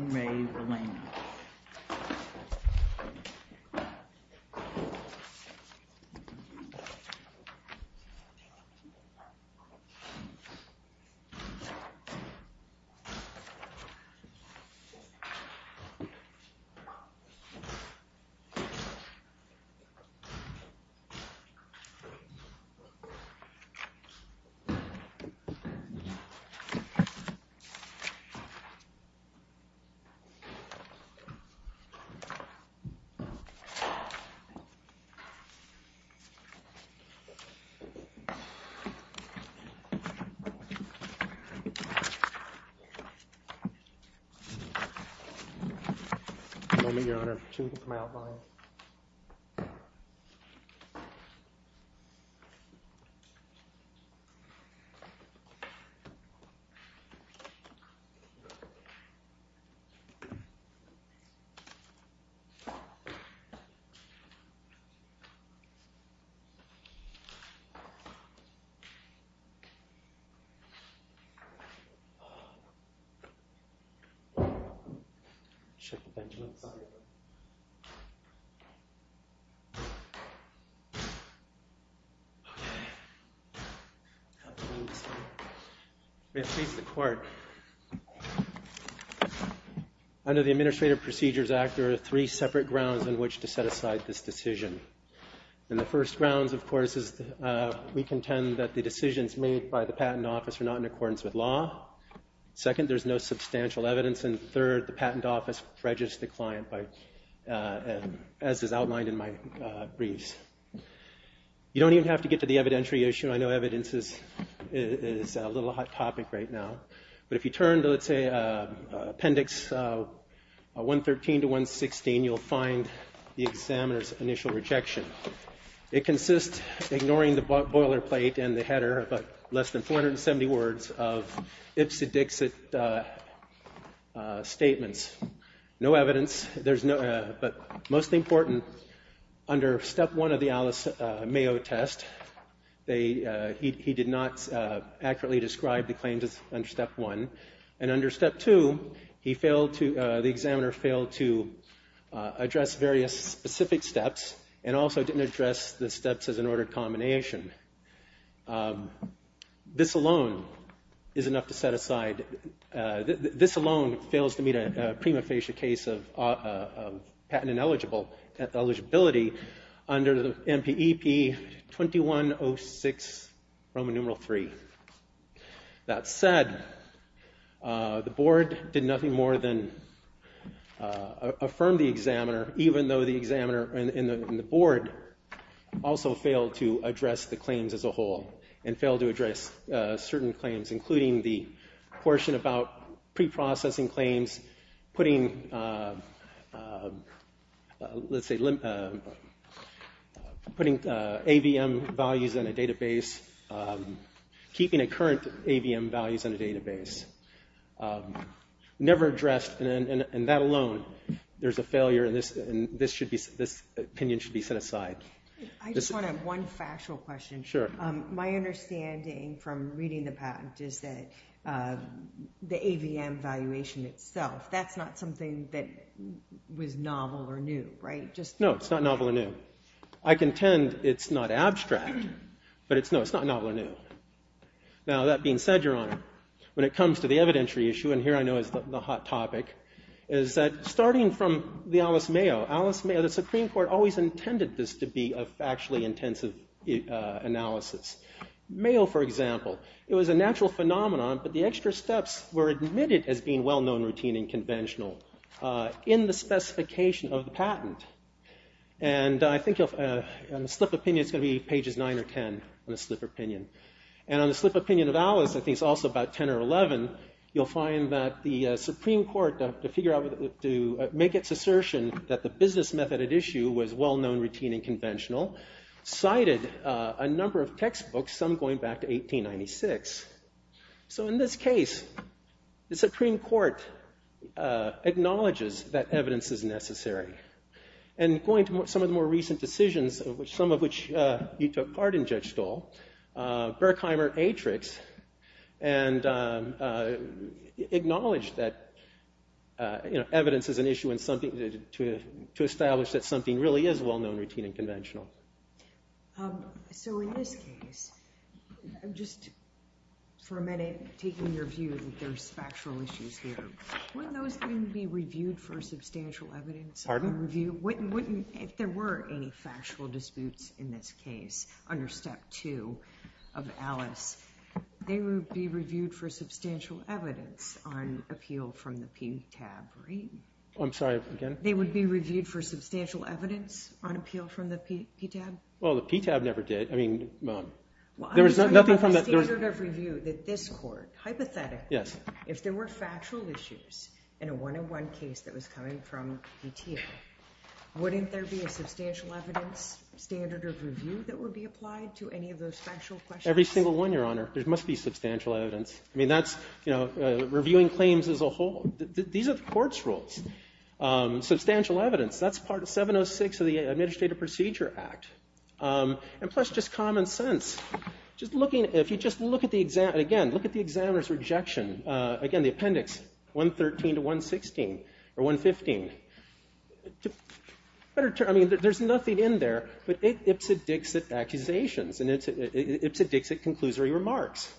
In Re Villena In Re Villena In Re Villena Under the Administrative Procedures Act, there are three separate grounds on which to set aside this decision. And the first grounds, of course, is we contend that the decisions made by the Patent Office are not in accordance with law. Second, there's no substantial evidence. And third, the Patent Office prejudice the client, as is outlined in my briefs. You don't even have to get to the evidentiary issue. I know evidence is a little hot topic right now. But if you turn to, let's say, Appendix 113 to 116, you'll find the examiner's initial rejection. It consists of ignoring the boilerplate and the header of less than 470 words of Ipsodixit statements. No evidence. But most important, under Step 1 of the Alice Mayo test, he did not accurately describe the claims under Step 1. And under Step 2, the examiner failed to address various specific steps and also didn't address the steps as an ordered combination. This alone is enough to set aside. This alone fails to meet a prima facie case of patent ineligible eligibility under the MPEP 2106 Roman numeral III. That said, the Board did nothing more than affirm the examiner, even though the examiner and the Board also failed to address the claims as a whole and failed to address certain claims, including the portion about preprocessing claims, putting AVM values in a database, keeping current AVM values in a database. Never addressed, and that alone, there's a failure, and this opinion should be set aside. I just want to have one factual question. Sure. My understanding from reading the patent is that the AVM valuation itself, that's not something that was novel or new, right? No, it's not novel or new. I contend it's not abstract, but no, it's not novel or new. Now, that being said, Your Honor, when it comes to the evidentiary issue, and here I know is the hot topic, is that starting from the Alice Mayo, Alice Mayo, the Supreme Court always intended this to be a factually intensive analysis. Mayo, for example, it was a natural phenomenon, but the extra steps were admitted as being well-known, routine, and conventional in the specification of the patent. And I think on a slip of opinion, it's going to be pages 9 or 10 on a slip of opinion. And on the slip of opinion of Alice, I think it's also about 10 or 11, you'll find that the Supreme Court, to make its assertion that the business method at issue was well-known, routine, and conventional, cited a number of textbooks, some going back to 1896. So in this case, the Supreme Court acknowledges that evidence is necessary. And going to some of the more recent decisions, some of which you took part in, Judge Stahl, Berkheimer, Atrix, and acknowledged that evidence is an issue to establish that something really is well-known, routine, and conventional. So in this case, I'm just for a minute taking your view that there's factual issues here. Wouldn't those things be reviewed for substantial evidence? Pardon? If there were any factual disputes in this case, under Step 2 of Alice, they would be reviewed for substantial evidence on appeal from the PDTAB, right? I'm sorry, again? They would be reviewed for substantial evidence on appeal from the PDTAB? Well, the PDTAB never did. I mean, there was nothing from the… Well, I'm just talking about the standard of review that this Court, hypothetically, if there were factual issues in a one-on-one case that was coming from the PDTA, wouldn't there be a substantial evidence standard of review that would be applied to any of those factual questions? Every single one, Your Honor. There must be substantial evidence. I mean, that's, you know, reviewing claims as a whole. These are the Court's rules. Substantial evidence, that's part of 706 of the Administrative Procedure Act. And plus, just common sense. Just looking, if you just look at the exam, again, look at the examiner's rejection. Again, the appendix, 113 to 116, or 115. I mean, there's nothing in there, but it's a Dixit accusations, and it's a Dixit conclusory remarks.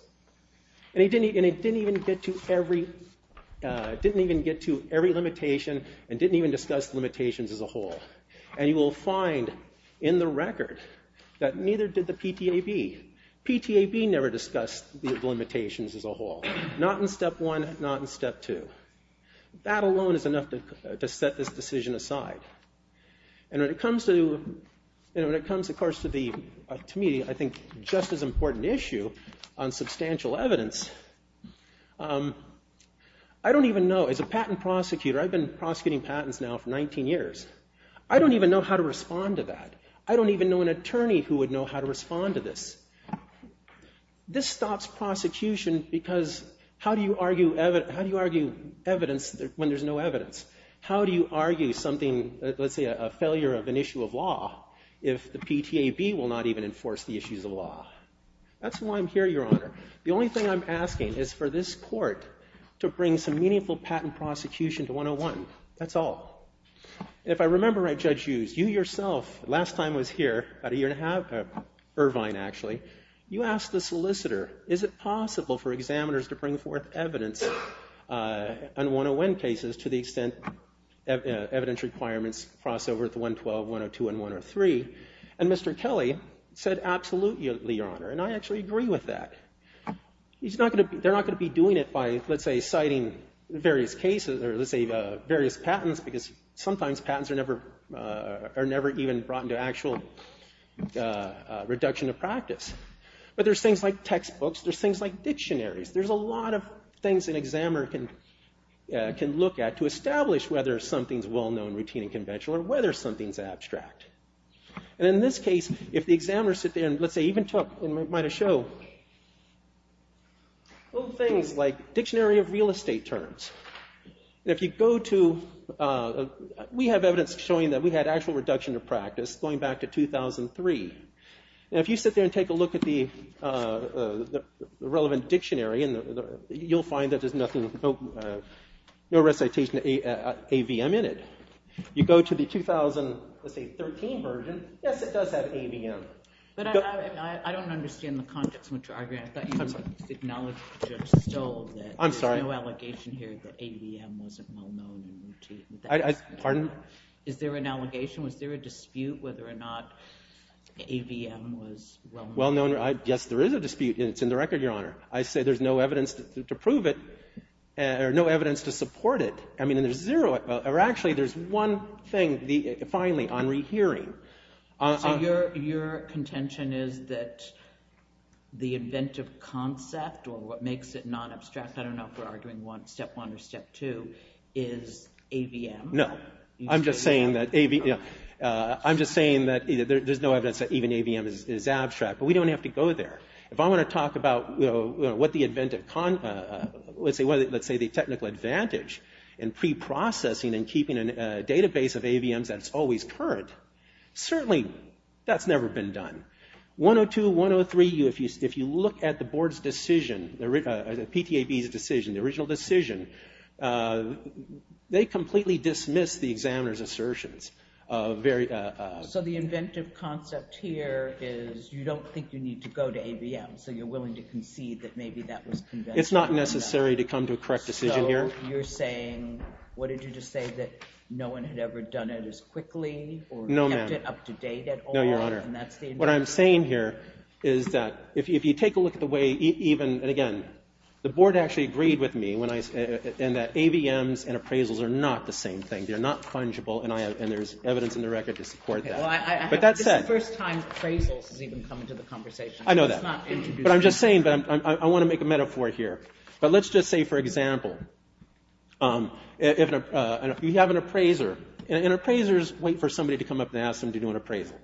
And it didn't even get to every limitation and didn't even discuss limitations as a whole. And you will find in the record that neither did the PTAB. PTAB never discussed the limitations as a whole. Not in Step 1, not in Step 2. That alone is enough to set this decision aside. And when it comes, of course, to me, I think, just as important issue on substantial evidence, I don't even know. As a patent prosecutor, I've been prosecuting patents now for 19 years. I don't even know how to respond to that. I don't even know an attorney who would know how to respond to this. This stops prosecution because how do you argue evidence when there's no evidence? How do you argue something, let's say a failure of an issue of law, if the PTAB will not even enforce the issues of law? That's why I'm here, Your Honor. The only thing I'm asking is for this court to bring some meaningful patent prosecution to 101. That's all. If I remember right, Judge Hughes, you yourself, last time I was here, about a year and a half, Irvine, actually, you asked the solicitor, is it possible for examiners to bring forth evidence on 101 cases to the extent evidence requirements cross over to 112, 102, and 103? And Mr. Kelly said, absolutely, Your Honor. And I actually agree with that. They're not going to be doing it by, let's say, citing various cases or, let's say, various patents because sometimes patents are never even brought into actual reduction of practice. But there's things like textbooks. There's things like dictionaries. There's a lot of things an examiner can look at to establish whether something's well-known, routine, and conventional or whether something's abstract. And in this case, if the examiners sit there and, let's say, even might have show little things like dictionary of real estate terms. If you go to, we have evidence showing that we had actual reduction of practice going back to 2003. And if you sit there and take a look at the relevant dictionary, you'll find that there's no recitation of AVM in it. You go to the 2013 version, yes, it does have AVM. But I don't understand the context in which you're arguing. I thought you acknowledged or just stole that. I'm sorry. There's no allegation here that AVM wasn't well-known and routine. Pardon? Is there an allegation? Was there a dispute whether or not AVM was well-known? Well-known, yes, there is a dispute. It's in the record, Your Honor. I say there's no evidence to prove it or no evidence to support it. I mean, there's zero or actually there's one thing, finally, on rehearing. So your contention is that the inventive concept or what makes it non-abstract, I don't know if we're arguing step one or step two, is AVM? No. I'm just saying that there's no evidence that even AVM is abstract, but we don't have to go there. If I want to talk about what the inventive, let's say the technical advantage in preprocessing and keeping a database of AVMs that's always current, certainly that's never been done. 102, 103, if you look at the board's decision, PTAB's decision, the original decision, they completely dismissed the examiner's assertions. So the inventive concept here is you don't think you need to go to AVM, so you're willing to concede that maybe that was conventional? It's not necessary to come to a correct decision here. So you're saying, what did you just say, that no one had ever done it as quickly or kept it up to date at all? No, ma'am. No, Your Honor. And that's the inventive concept. What I'm saying here is that if you take a look at the way even, and again, the board actually agreed with me and that AVMs and appraisals are not the same thing. They're not fungible, and there's evidence in the record to support that. But that said. This is the first time appraisals has even come into the conversation. I know that. It's not introduced. But I'm just saying, I want to make a metaphor here. But let's just say, for example, you have an appraiser, and appraisers wait for somebody to come up and ask them to do an appraisal.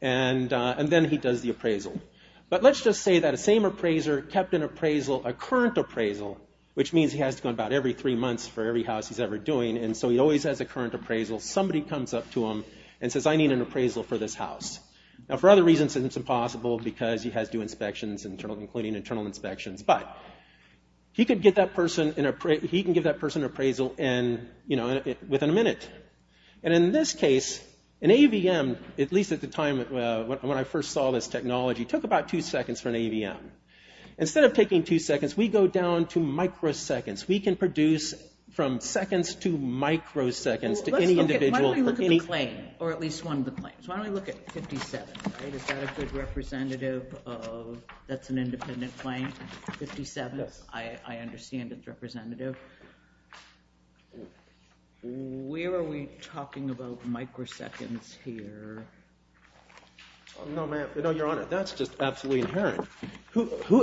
And then he does the appraisal. But let's just say that the same appraiser kept an appraisal, a current appraisal, which means he has to go about every three months for every house he's ever doing. And so he always has a current appraisal. Somebody comes up to him and says, I need an appraisal for this house. Now, for other reasons, it's impossible because he has to do inspections, including internal inspections. But he can give that person an appraisal within a minute. And in this case, an AVM, at least at the time when I first saw this technology, took about two seconds for an AVM. Instead of taking two seconds, we go down to microseconds. We can produce from seconds to microseconds to any individual. Why don't we look at the claim, or at least one of the claims? Why don't we look at 57? Is that a good representative of that's an independent claim? 57? Yes. I understand it's representative. Where are we talking about microseconds here? No, Your Honor, that's just absolutely inherent.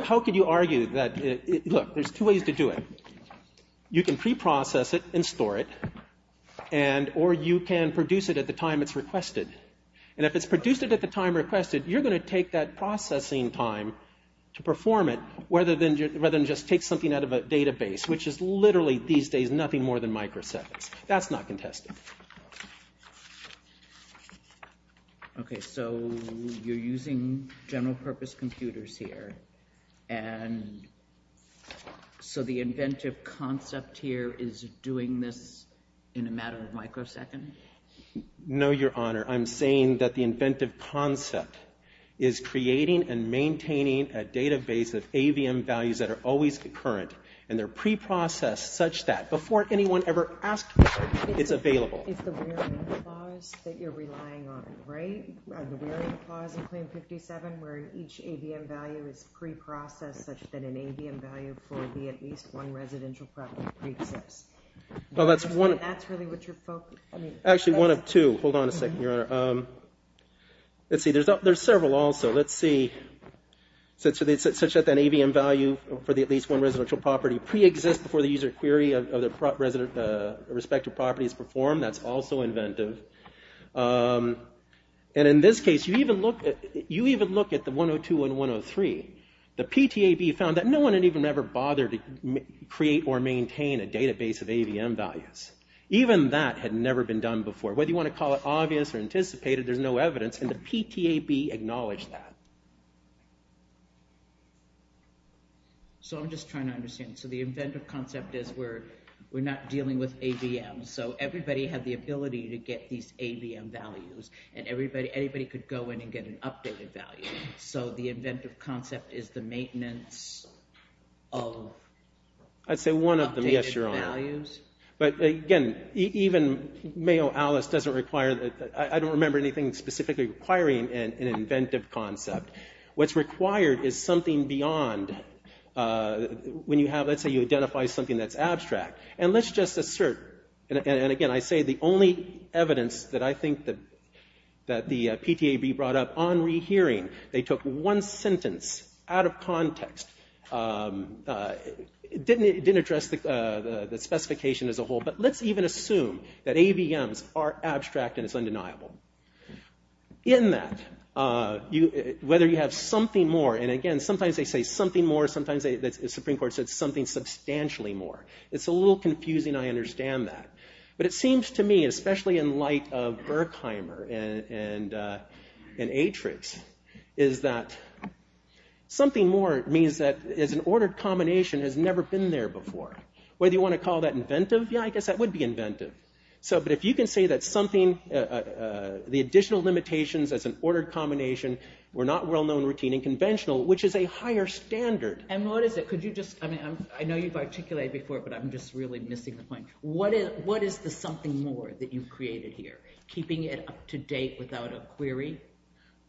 How could you argue that? Look, there's two ways to do it. You can pre-process it and store it, or you can produce it at the time it's requested. And if it's produced at the time requested, you're going to take that processing time to perform it, rather than just take something out of a database, which is literally these days nothing more than microseconds. That's not contested. Okay, so you're using general-purpose computers here, and so the inventive concept here is doing this in a matter of microseconds? No, Your Honor, I'm saying that the inventive concept is creating and maintaining a database of AVM values that are always current, and they're pre-processed such that before anyone ever asks for it, it's available. It's the wearing clause that you're relying on, right? The wearing clause in Claim 57 where each AVM value is pre-processed such that an AVM value will be at least one residential property pre-accessed. Well, that's one of two. Actually, one of two. Hold on a second, Your Honor. Let's see, there's several also. Let's see, such that an AVM value for at least one residential property pre-exists before the user query of the respective property is performed. That's also inventive. And in this case, you even look at the 102 and 103. The PTAB found that no one had even ever bothered to create or maintain a database of AVM values. Even that had never been done before. Whether you want to call it obvious or anticipated, there's no evidence, and the PTAB acknowledged that. So I'm just trying to understand. So the inventive concept is we're not dealing with AVM. So everybody had the ability to get these AVM values, and anybody could go in and get an updated value. So the inventive concept is the maintenance of updated values. But, again, even Mayo Alice doesn't require that. I don't remember anything specifically requiring an inventive concept. What's required is something beyond when you have, let's say you identify something that's abstract. And let's just assert, and, again, I say the only evidence that I think that the PTAB brought up on rehearing, they took one sentence out of context. It didn't address the specification as a whole, but let's even assume that AVMs are abstract and it's undeniable. In that, whether you have something more, and, again, sometimes they say something more. Sometimes the Supreme Court said something substantially more. It's a little confusing. I understand that. But it seems to me, especially in light of Berkheimer and Atrids, is that something more means that as an ordered combination has never been there before. Whether you want to call that inventive, yeah, I guess that would be inventive. But if you can say that something, the additional limitations as an ordered combination were not well-known, routine, and conventional, which is a higher standard. And what is it? Could you just, I mean, I know you've articulated before, but I'm just really missing the point. What is the something more that you've created here, keeping it up to date without a query?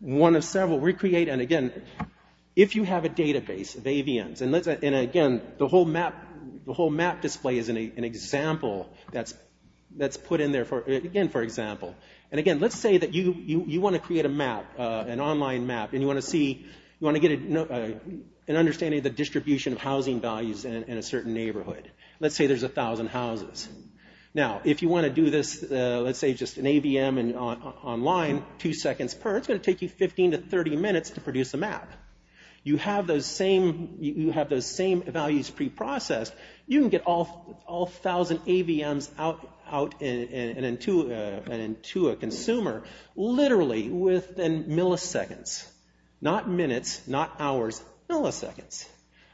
One of several. Recreate, and, again, if you have a database of AVMs, and, again, the whole map display is an example that's put in there, again, for example. And, again, let's say that you want to create a map, an online map, and you want to get an understanding of the distribution of housing values in a certain neighborhood. Let's say there's 1,000 houses. Now, if you want to do this, let's say, just an AVM online, two seconds per, it's going to take you 15 to 30 minutes to produce a map. You have those same values pre-processed, you can get all 1,000 AVMs out and into a consumer literally within milliseconds. Not minutes, not hours, milliseconds.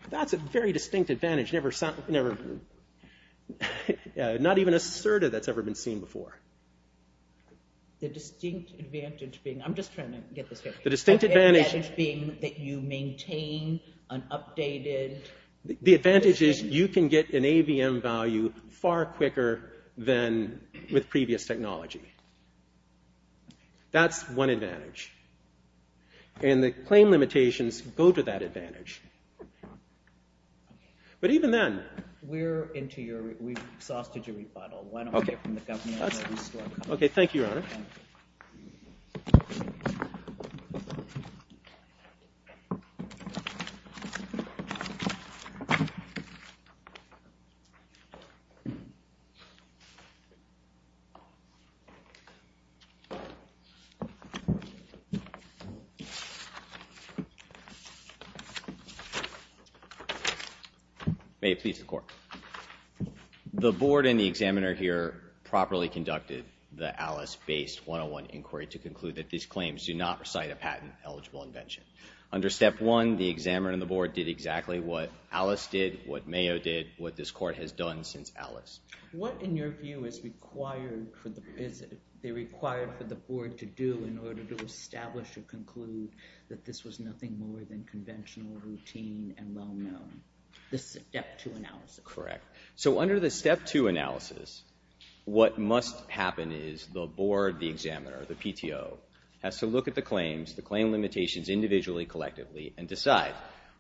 That's a very distinct advantage, not even asserted that's ever been seen before. The distinct advantage being, I'm just trying to get this right. The distinct advantage being that you maintain an updated. The advantage is you can get an AVM value far quicker than with previous technology. That's one advantage. And the claim limitations go to that advantage. But even then. We're into your, we've exhausted your rebuttal. Why don't we get from the governor. Okay, thank you, Your Honor. May it please the Court. The board and the examiner here properly conducted the Alice-based 101 inquiry to conclude that these claims do not recite a patent-eligible invention. Under Step 1, the examiner and the board did exactly what Alice did, what Mayo did, what this Court has done since Alice. What, in your view, is required for the board to do in order to establish or conclude that this was nothing more than conventional, routine, and well-known? The Step 2 analysis. Correct. So under the Step 2 analysis, what must happen is the board, the examiner, the PTO, has to look at the claims, the claim limitations individually, collectively, and decide,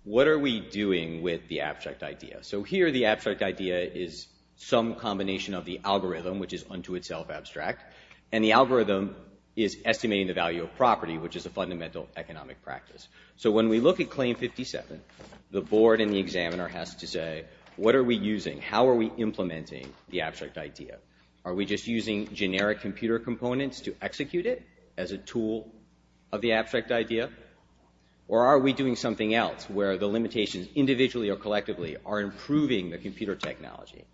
what are we doing with the abstract idea? So here the abstract idea is some combination of the algorithm, which is unto itself abstract, and the algorithm is estimating the value of property, which is a fundamental economic practice. So when we look at Claim 57, the board and the examiner has to say, what are we using? How are we implementing the abstract idea? Are we just using generic computer components to execute it as a tool of the abstract idea? Or are we doing something else where the limitations individually or collectively are improving the computer technology?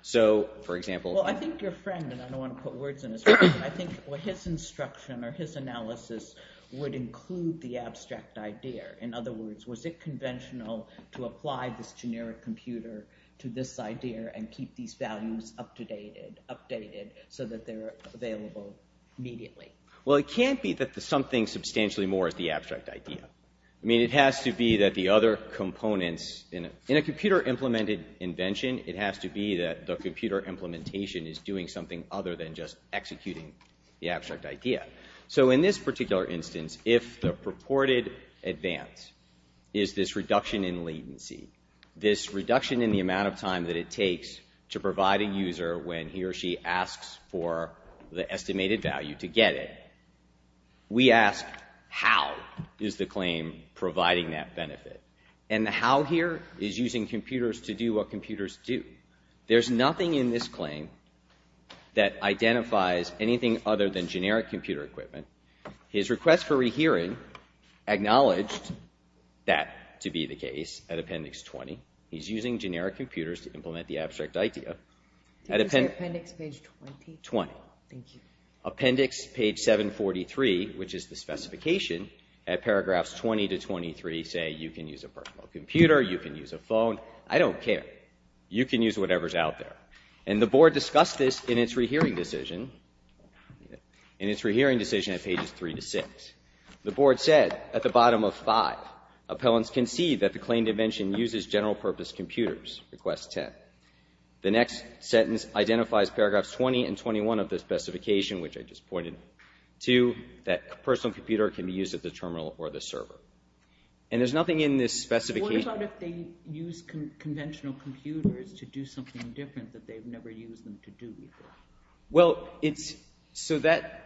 So, for example— Well, I think your friend, and I don't want to put words in his face, but I think what his instruction or his analysis would include the abstract idea. In other words, was it conventional to apply this generic computer to this idea and keep these values updated so that they're available immediately? Well, it can't be that something substantially more is the abstract idea. I mean, it has to be that the other components— In a computer-implemented invention, it has to be that the computer implementation is doing something other than just executing the abstract idea. So in this particular instance, if the purported advance is this reduction in latency, this reduction in the amount of time that it takes to provide a user when he or she asks for the estimated value to get it, we ask, how is the claim providing that benefit? And the how here is using computers to do what computers do. There's nothing in this claim that identifies anything other than generic computer equipment. His request for rehearing acknowledged that to be the case at Appendix 20. He's using generic computers to implement the abstract idea. Did you say Appendix page 20? 20. Thank you. Appendix page 743, which is the specification, at paragraphs 20 to 23 say you can use a personal computer, you can use a phone. I don't care. You can use whatever is out there. And the Board discussed this in its rehearing decision, in its rehearing decision at pages 3 to 6. The Board said at the bottom of 5, appellants concede that the claim dimension uses general-purpose computers. Request 10. The next sentence identifies paragraphs 20 and 21 of the specification, which I just pointed to, that a personal computer can be used at the terminal or the server. And there's nothing in this specification. What about if they use conventional computers to do something different that they've never used them to do before? Well, it's so that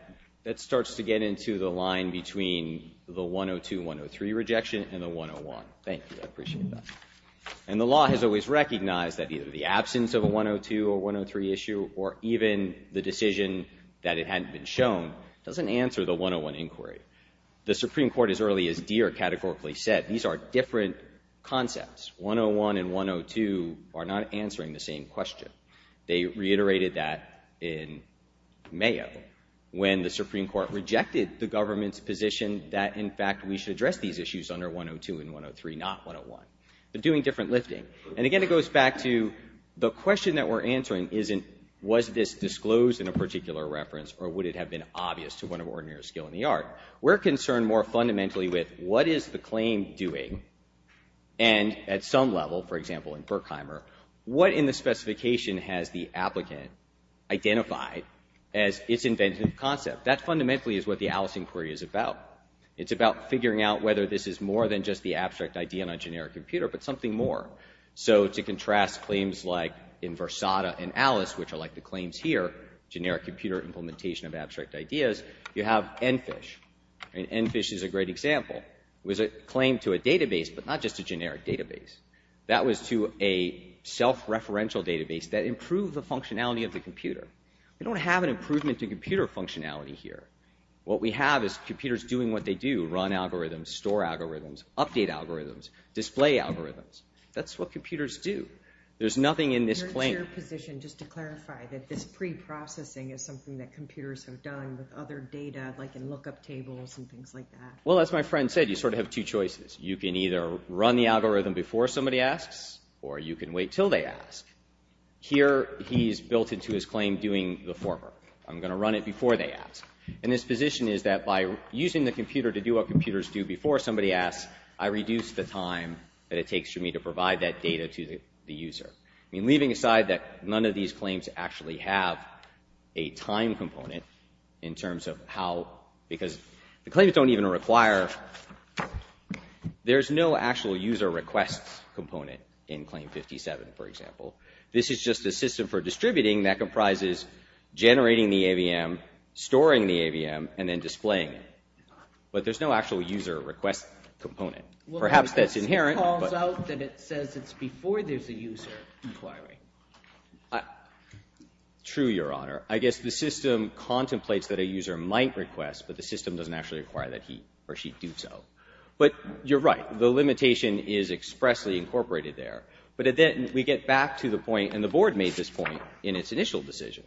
starts to get into the line between the 102-103 rejection and the 101. Thank you. I appreciate that. And the law has always recognized that either the absence of a 102 or 103 issue or even the decision that it hadn't been shown doesn't answer the 101 inquiry. The Supreme Court, as early as Deere categorically said, these are different concepts. 101 and 102 are not answering the same question. They reiterated that in Mayo when the Supreme Court rejected the government's position that, in fact, we should address these issues under 102 and 103, not 101. They're doing different lifting. And, again, it goes back to the question that we're answering isn't was this disclosed in a particular reference or would it have been obvious to one of our ordinary skill in the art. We're concerned more fundamentally with what is the claim doing and, at some level, for example, in Berkheimer, what in the specification has the applicant identified as its inventive concept? That fundamentally is what the Alice inquiry is about. It's about figuring out whether this is more than just the abstract idea on a generic computer but something more. So to contrast claims like in Versada and Alice, which are like the claims here, generic computer implementation of abstract ideas, you have EnFish. And EnFish is a great example. It was a claim to a database but not just a generic database. That was to a self-referential database that improved the functionality of the computer. We don't have an improvement to computer functionality here. What we have is computers doing what they do, run algorithms, store algorithms, update algorithms, display algorithms. That's what computers do. There's nothing in this claim. Your position, just to clarify, that this preprocessing is something that computers have done with other data, like in lookup tables and things like that. Well, as my friend said, you sort of have two choices. You can either run the algorithm before somebody asks or you can wait until they ask. Here he's built into his claim doing the former. I'm going to run it before they ask. And his position is that by using the computer to do what computers do before somebody asks, I reduce the time that it takes for me to provide that data to the user. I mean, leaving aside that none of these claims actually have a time component in terms of how, because the claims don't even require, there's no actual user request component in Claim 57, for example. This is just a system for distributing that comprises generating the AVM, storing the AVM, and then displaying it. But there's no actual user request component. Perhaps that's inherent. Well, this calls out that it says it's before there's a user inquiry. True, Your Honor. I guess the system contemplates that a user might request, but the system doesn't actually require that he or she do so. But you're right. The limitation is expressly incorporated there. But then we get back to the point, and the Board made this point in its initial decision.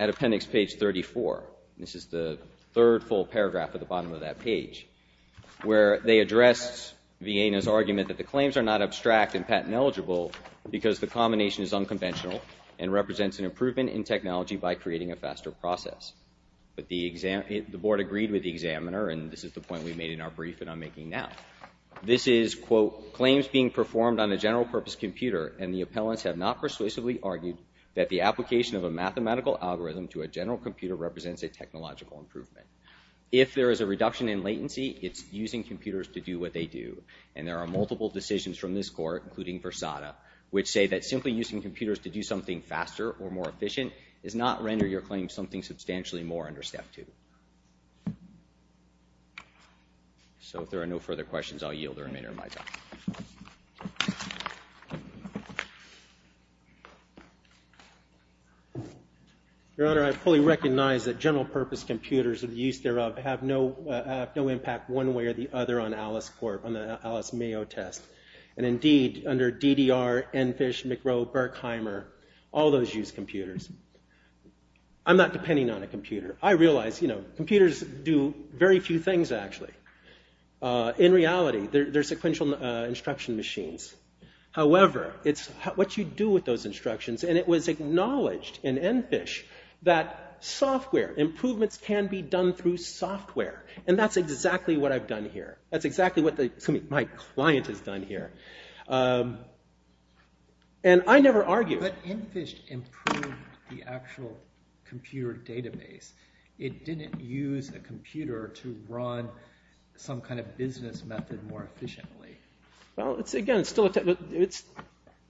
At appendix page 34, this is the third full paragraph at the bottom of that page, where they address Vienna's argument that the claims are not abstract and patent-eligible because the combination is unconventional and represents an improvement in technology by creating a faster process. But the Board agreed with the examiner, and this is the point we made in our brief that I'm making now. This is, quote, claims being performed on a general-purpose computer, and the appellants have not persuasively argued that the application of a mathematical algorithm to a general computer represents a technological improvement. If there is a reduction in latency, it's using computers to do what they do. And there are multiple decisions from this Court, including Versada, which say that simply using computers to do something faster or more efficient does not render your claim something substantially more under Step 2. So if there are no further questions, I'll yield. There are many on my side. Your Honor, I fully recognize that general-purpose computers, or the use thereof, have no impact one way or the other on the Alice-Mayo test. And indeed, under DDR, EnFish, McRow, Berkheimer, all those use computers. I'm not depending on a computer. I realize, you know, computers do very few things, actually. In reality, they're sequential instruction machines. However, it's what you do with those instructions, and it was acknowledged in EnFish that software improvements can be done through software. And that's exactly what I've done here. That's exactly what my client has done here. And I never argue. But EnFish improved the actual computer database. It didn't use a computer to run some kind of business method more efficiently. Well, it's, again, it's still a technical,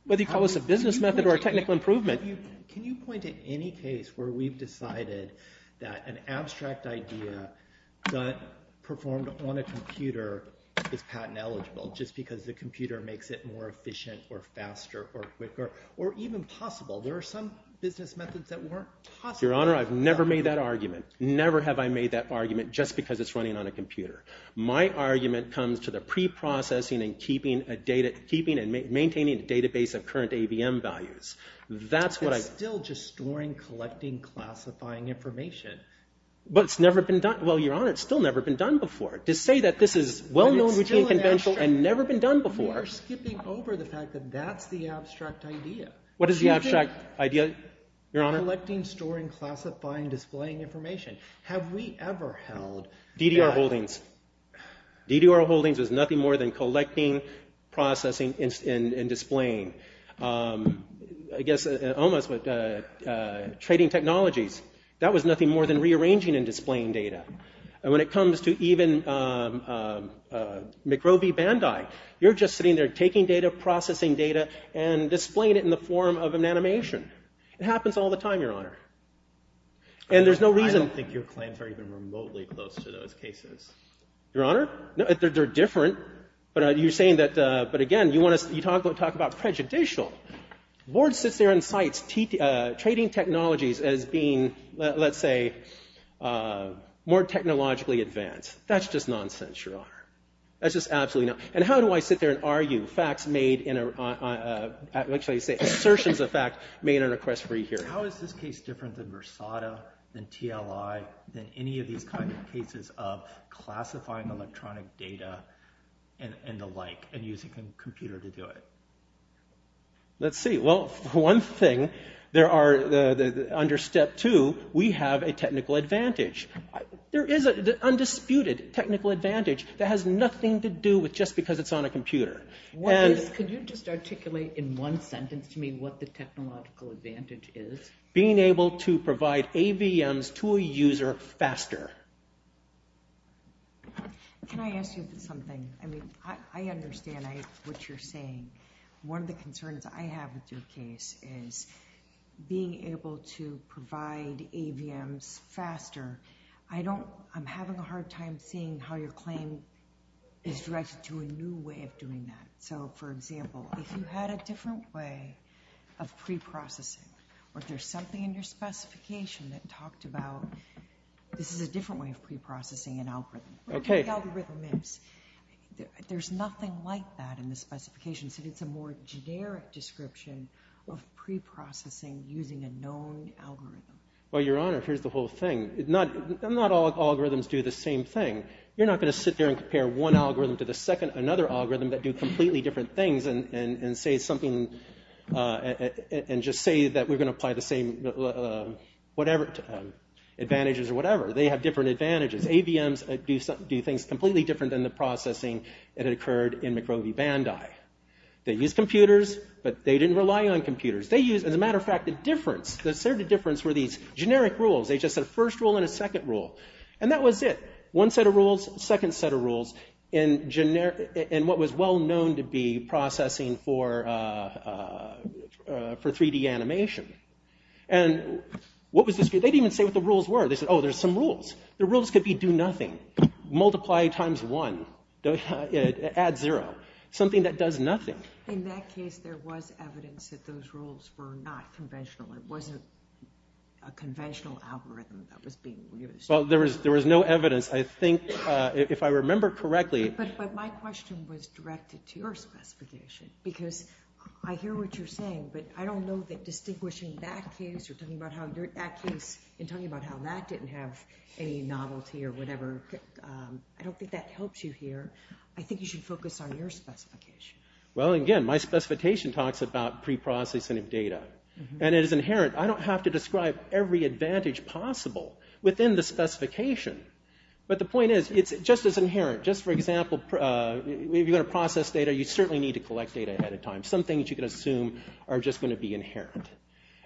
whether you call this a business method or a technical improvement. Can you point to any case where we've decided that an abstract idea that performed on a computer is patent eligible, just because the computer makes it more efficient or faster or quicker, or even possible? There are some business methods that weren't possible. Your Honor, I've never made that argument. Never have I made that argument just because it's running on a computer. My argument comes to the preprocessing and maintaining the database of current AVM values. That's what I... It's still just storing, collecting, classifying information. But it's never been done. Well, Your Honor, it's still never been done before. To say that this is well-known, routine, conventional, and never been done before... You're skipping over the fact that that's the abstract idea. What is the abstract idea, Your Honor? Collecting, storing, classifying, displaying information. Have we ever held... DDR holdings. DDR holdings is nothing more than collecting, processing, and displaying. I guess almost with trading technologies. That was nothing more than rearranging and displaying data. And when it comes to even McRow v. Bandai, you're just sitting there taking data, processing data, and displaying it in the form of an animation. It happens all the time, Your Honor. And there's no reason... I don't think your claims are even remotely close to those cases. Your Honor? They're different. But you're saying that... But again, you talk about prejudicial. Ward sits there and cites trading technologies as being, let's say, more technologically advanced. That's just nonsense, Your Honor. That's just absolutely nonsense. And how do I sit there and argue facts made in a... How shall I say it? Assertions of fact made in a request-free hearing. How is this case different than Versado, than TLI, than any of these kinds of cases of classifying electronic data and the like, and using a computer to do it? Let's see. Well, one thing, there are... Under Step 2, we have a technical advantage. There is an undisputed technical advantage that has nothing to do with just because it's on a computer. Could you just articulate in one sentence to me what the technological advantage is? Being able to provide AVMs to a user faster. Can I ask you something? I mean, I understand what you're saying. One of the concerns I have with your case is being able to provide AVMs faster. I don't... I'm having a hard time seeing how your claim is directed to a new way of doing that. So, for example, if you had a different way of preprocessing, or if there's something in your specification that talked about this is a different way of preprocessing an algorithm. Okay. What the algorithm is. There's nothing like that in the specification. So it's a more generic description of preprocessing using a known algorithm. Well, Your Honor, here's the whole thing. Not all algorithms do the same thing. You're not going to sit there and compare one algorithm to another algorithm that do completely different things and just say that we're going to apply the same advantages or whatever. They have different advantages. AVMs do things completely different than the processing that occurred in McRowey Bandai. They used computers, but they didn't rely on computers. They used, as a matter of fact, the difference. The difference were these generic rules. They just had a first rule and a second rule. And that was it. One set of rules, second set of rules in what was well known to be processing for 3D animation. And what was this? They didn't even say what the rules were. They said, oh, there's some rules. The rules could be do nothing, multiply times one, add zero, something that does nothing. In that case, there was evidence that those rules were not conventional. It wasn't a conventional algorithm that was being used. Well, there was no evidence. I think if I remember correctly. But my question was directed to your specification because I hear what you're saying, but I don't know that distinguishing that case or talking about that case and telling you about how that didn't have any novelty or whatever. I don't think that helps you here. I think you should focus on your specification. Well, again, my specification talks about preprocessing of data. And it is inherent. I don't have to describe every advantage possible within the specification. But the point is, it's just as inherent. Just for example, if you're going to process data, you certainly need to collect data ahead of time. Some things you can assume are just going to be inherent.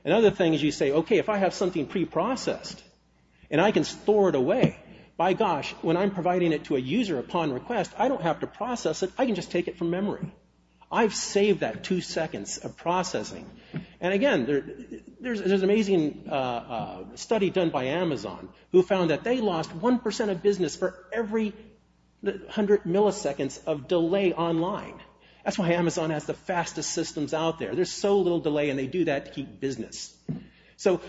And other things you say, okay, if I have something preprocessed and I can store it away, by gosh, when I'm providing it to a user upon request, I don't have to process it. I can just take it from memory. I've saved that two seconds of processing. And, again, there's an amazing study done by Amazon who found that they lost 1% of business for every 100 milliseconds of delay online. That's why Amazon has the fastest systems out there. There's so little delay and they do that to keep business. So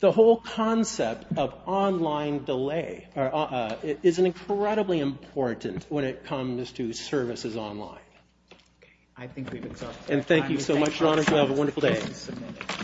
the whole concept of online delay is incredibly important when it comes to services online. I think we've exhausted our time. And thank you so much, Ron, and have a wonderful day.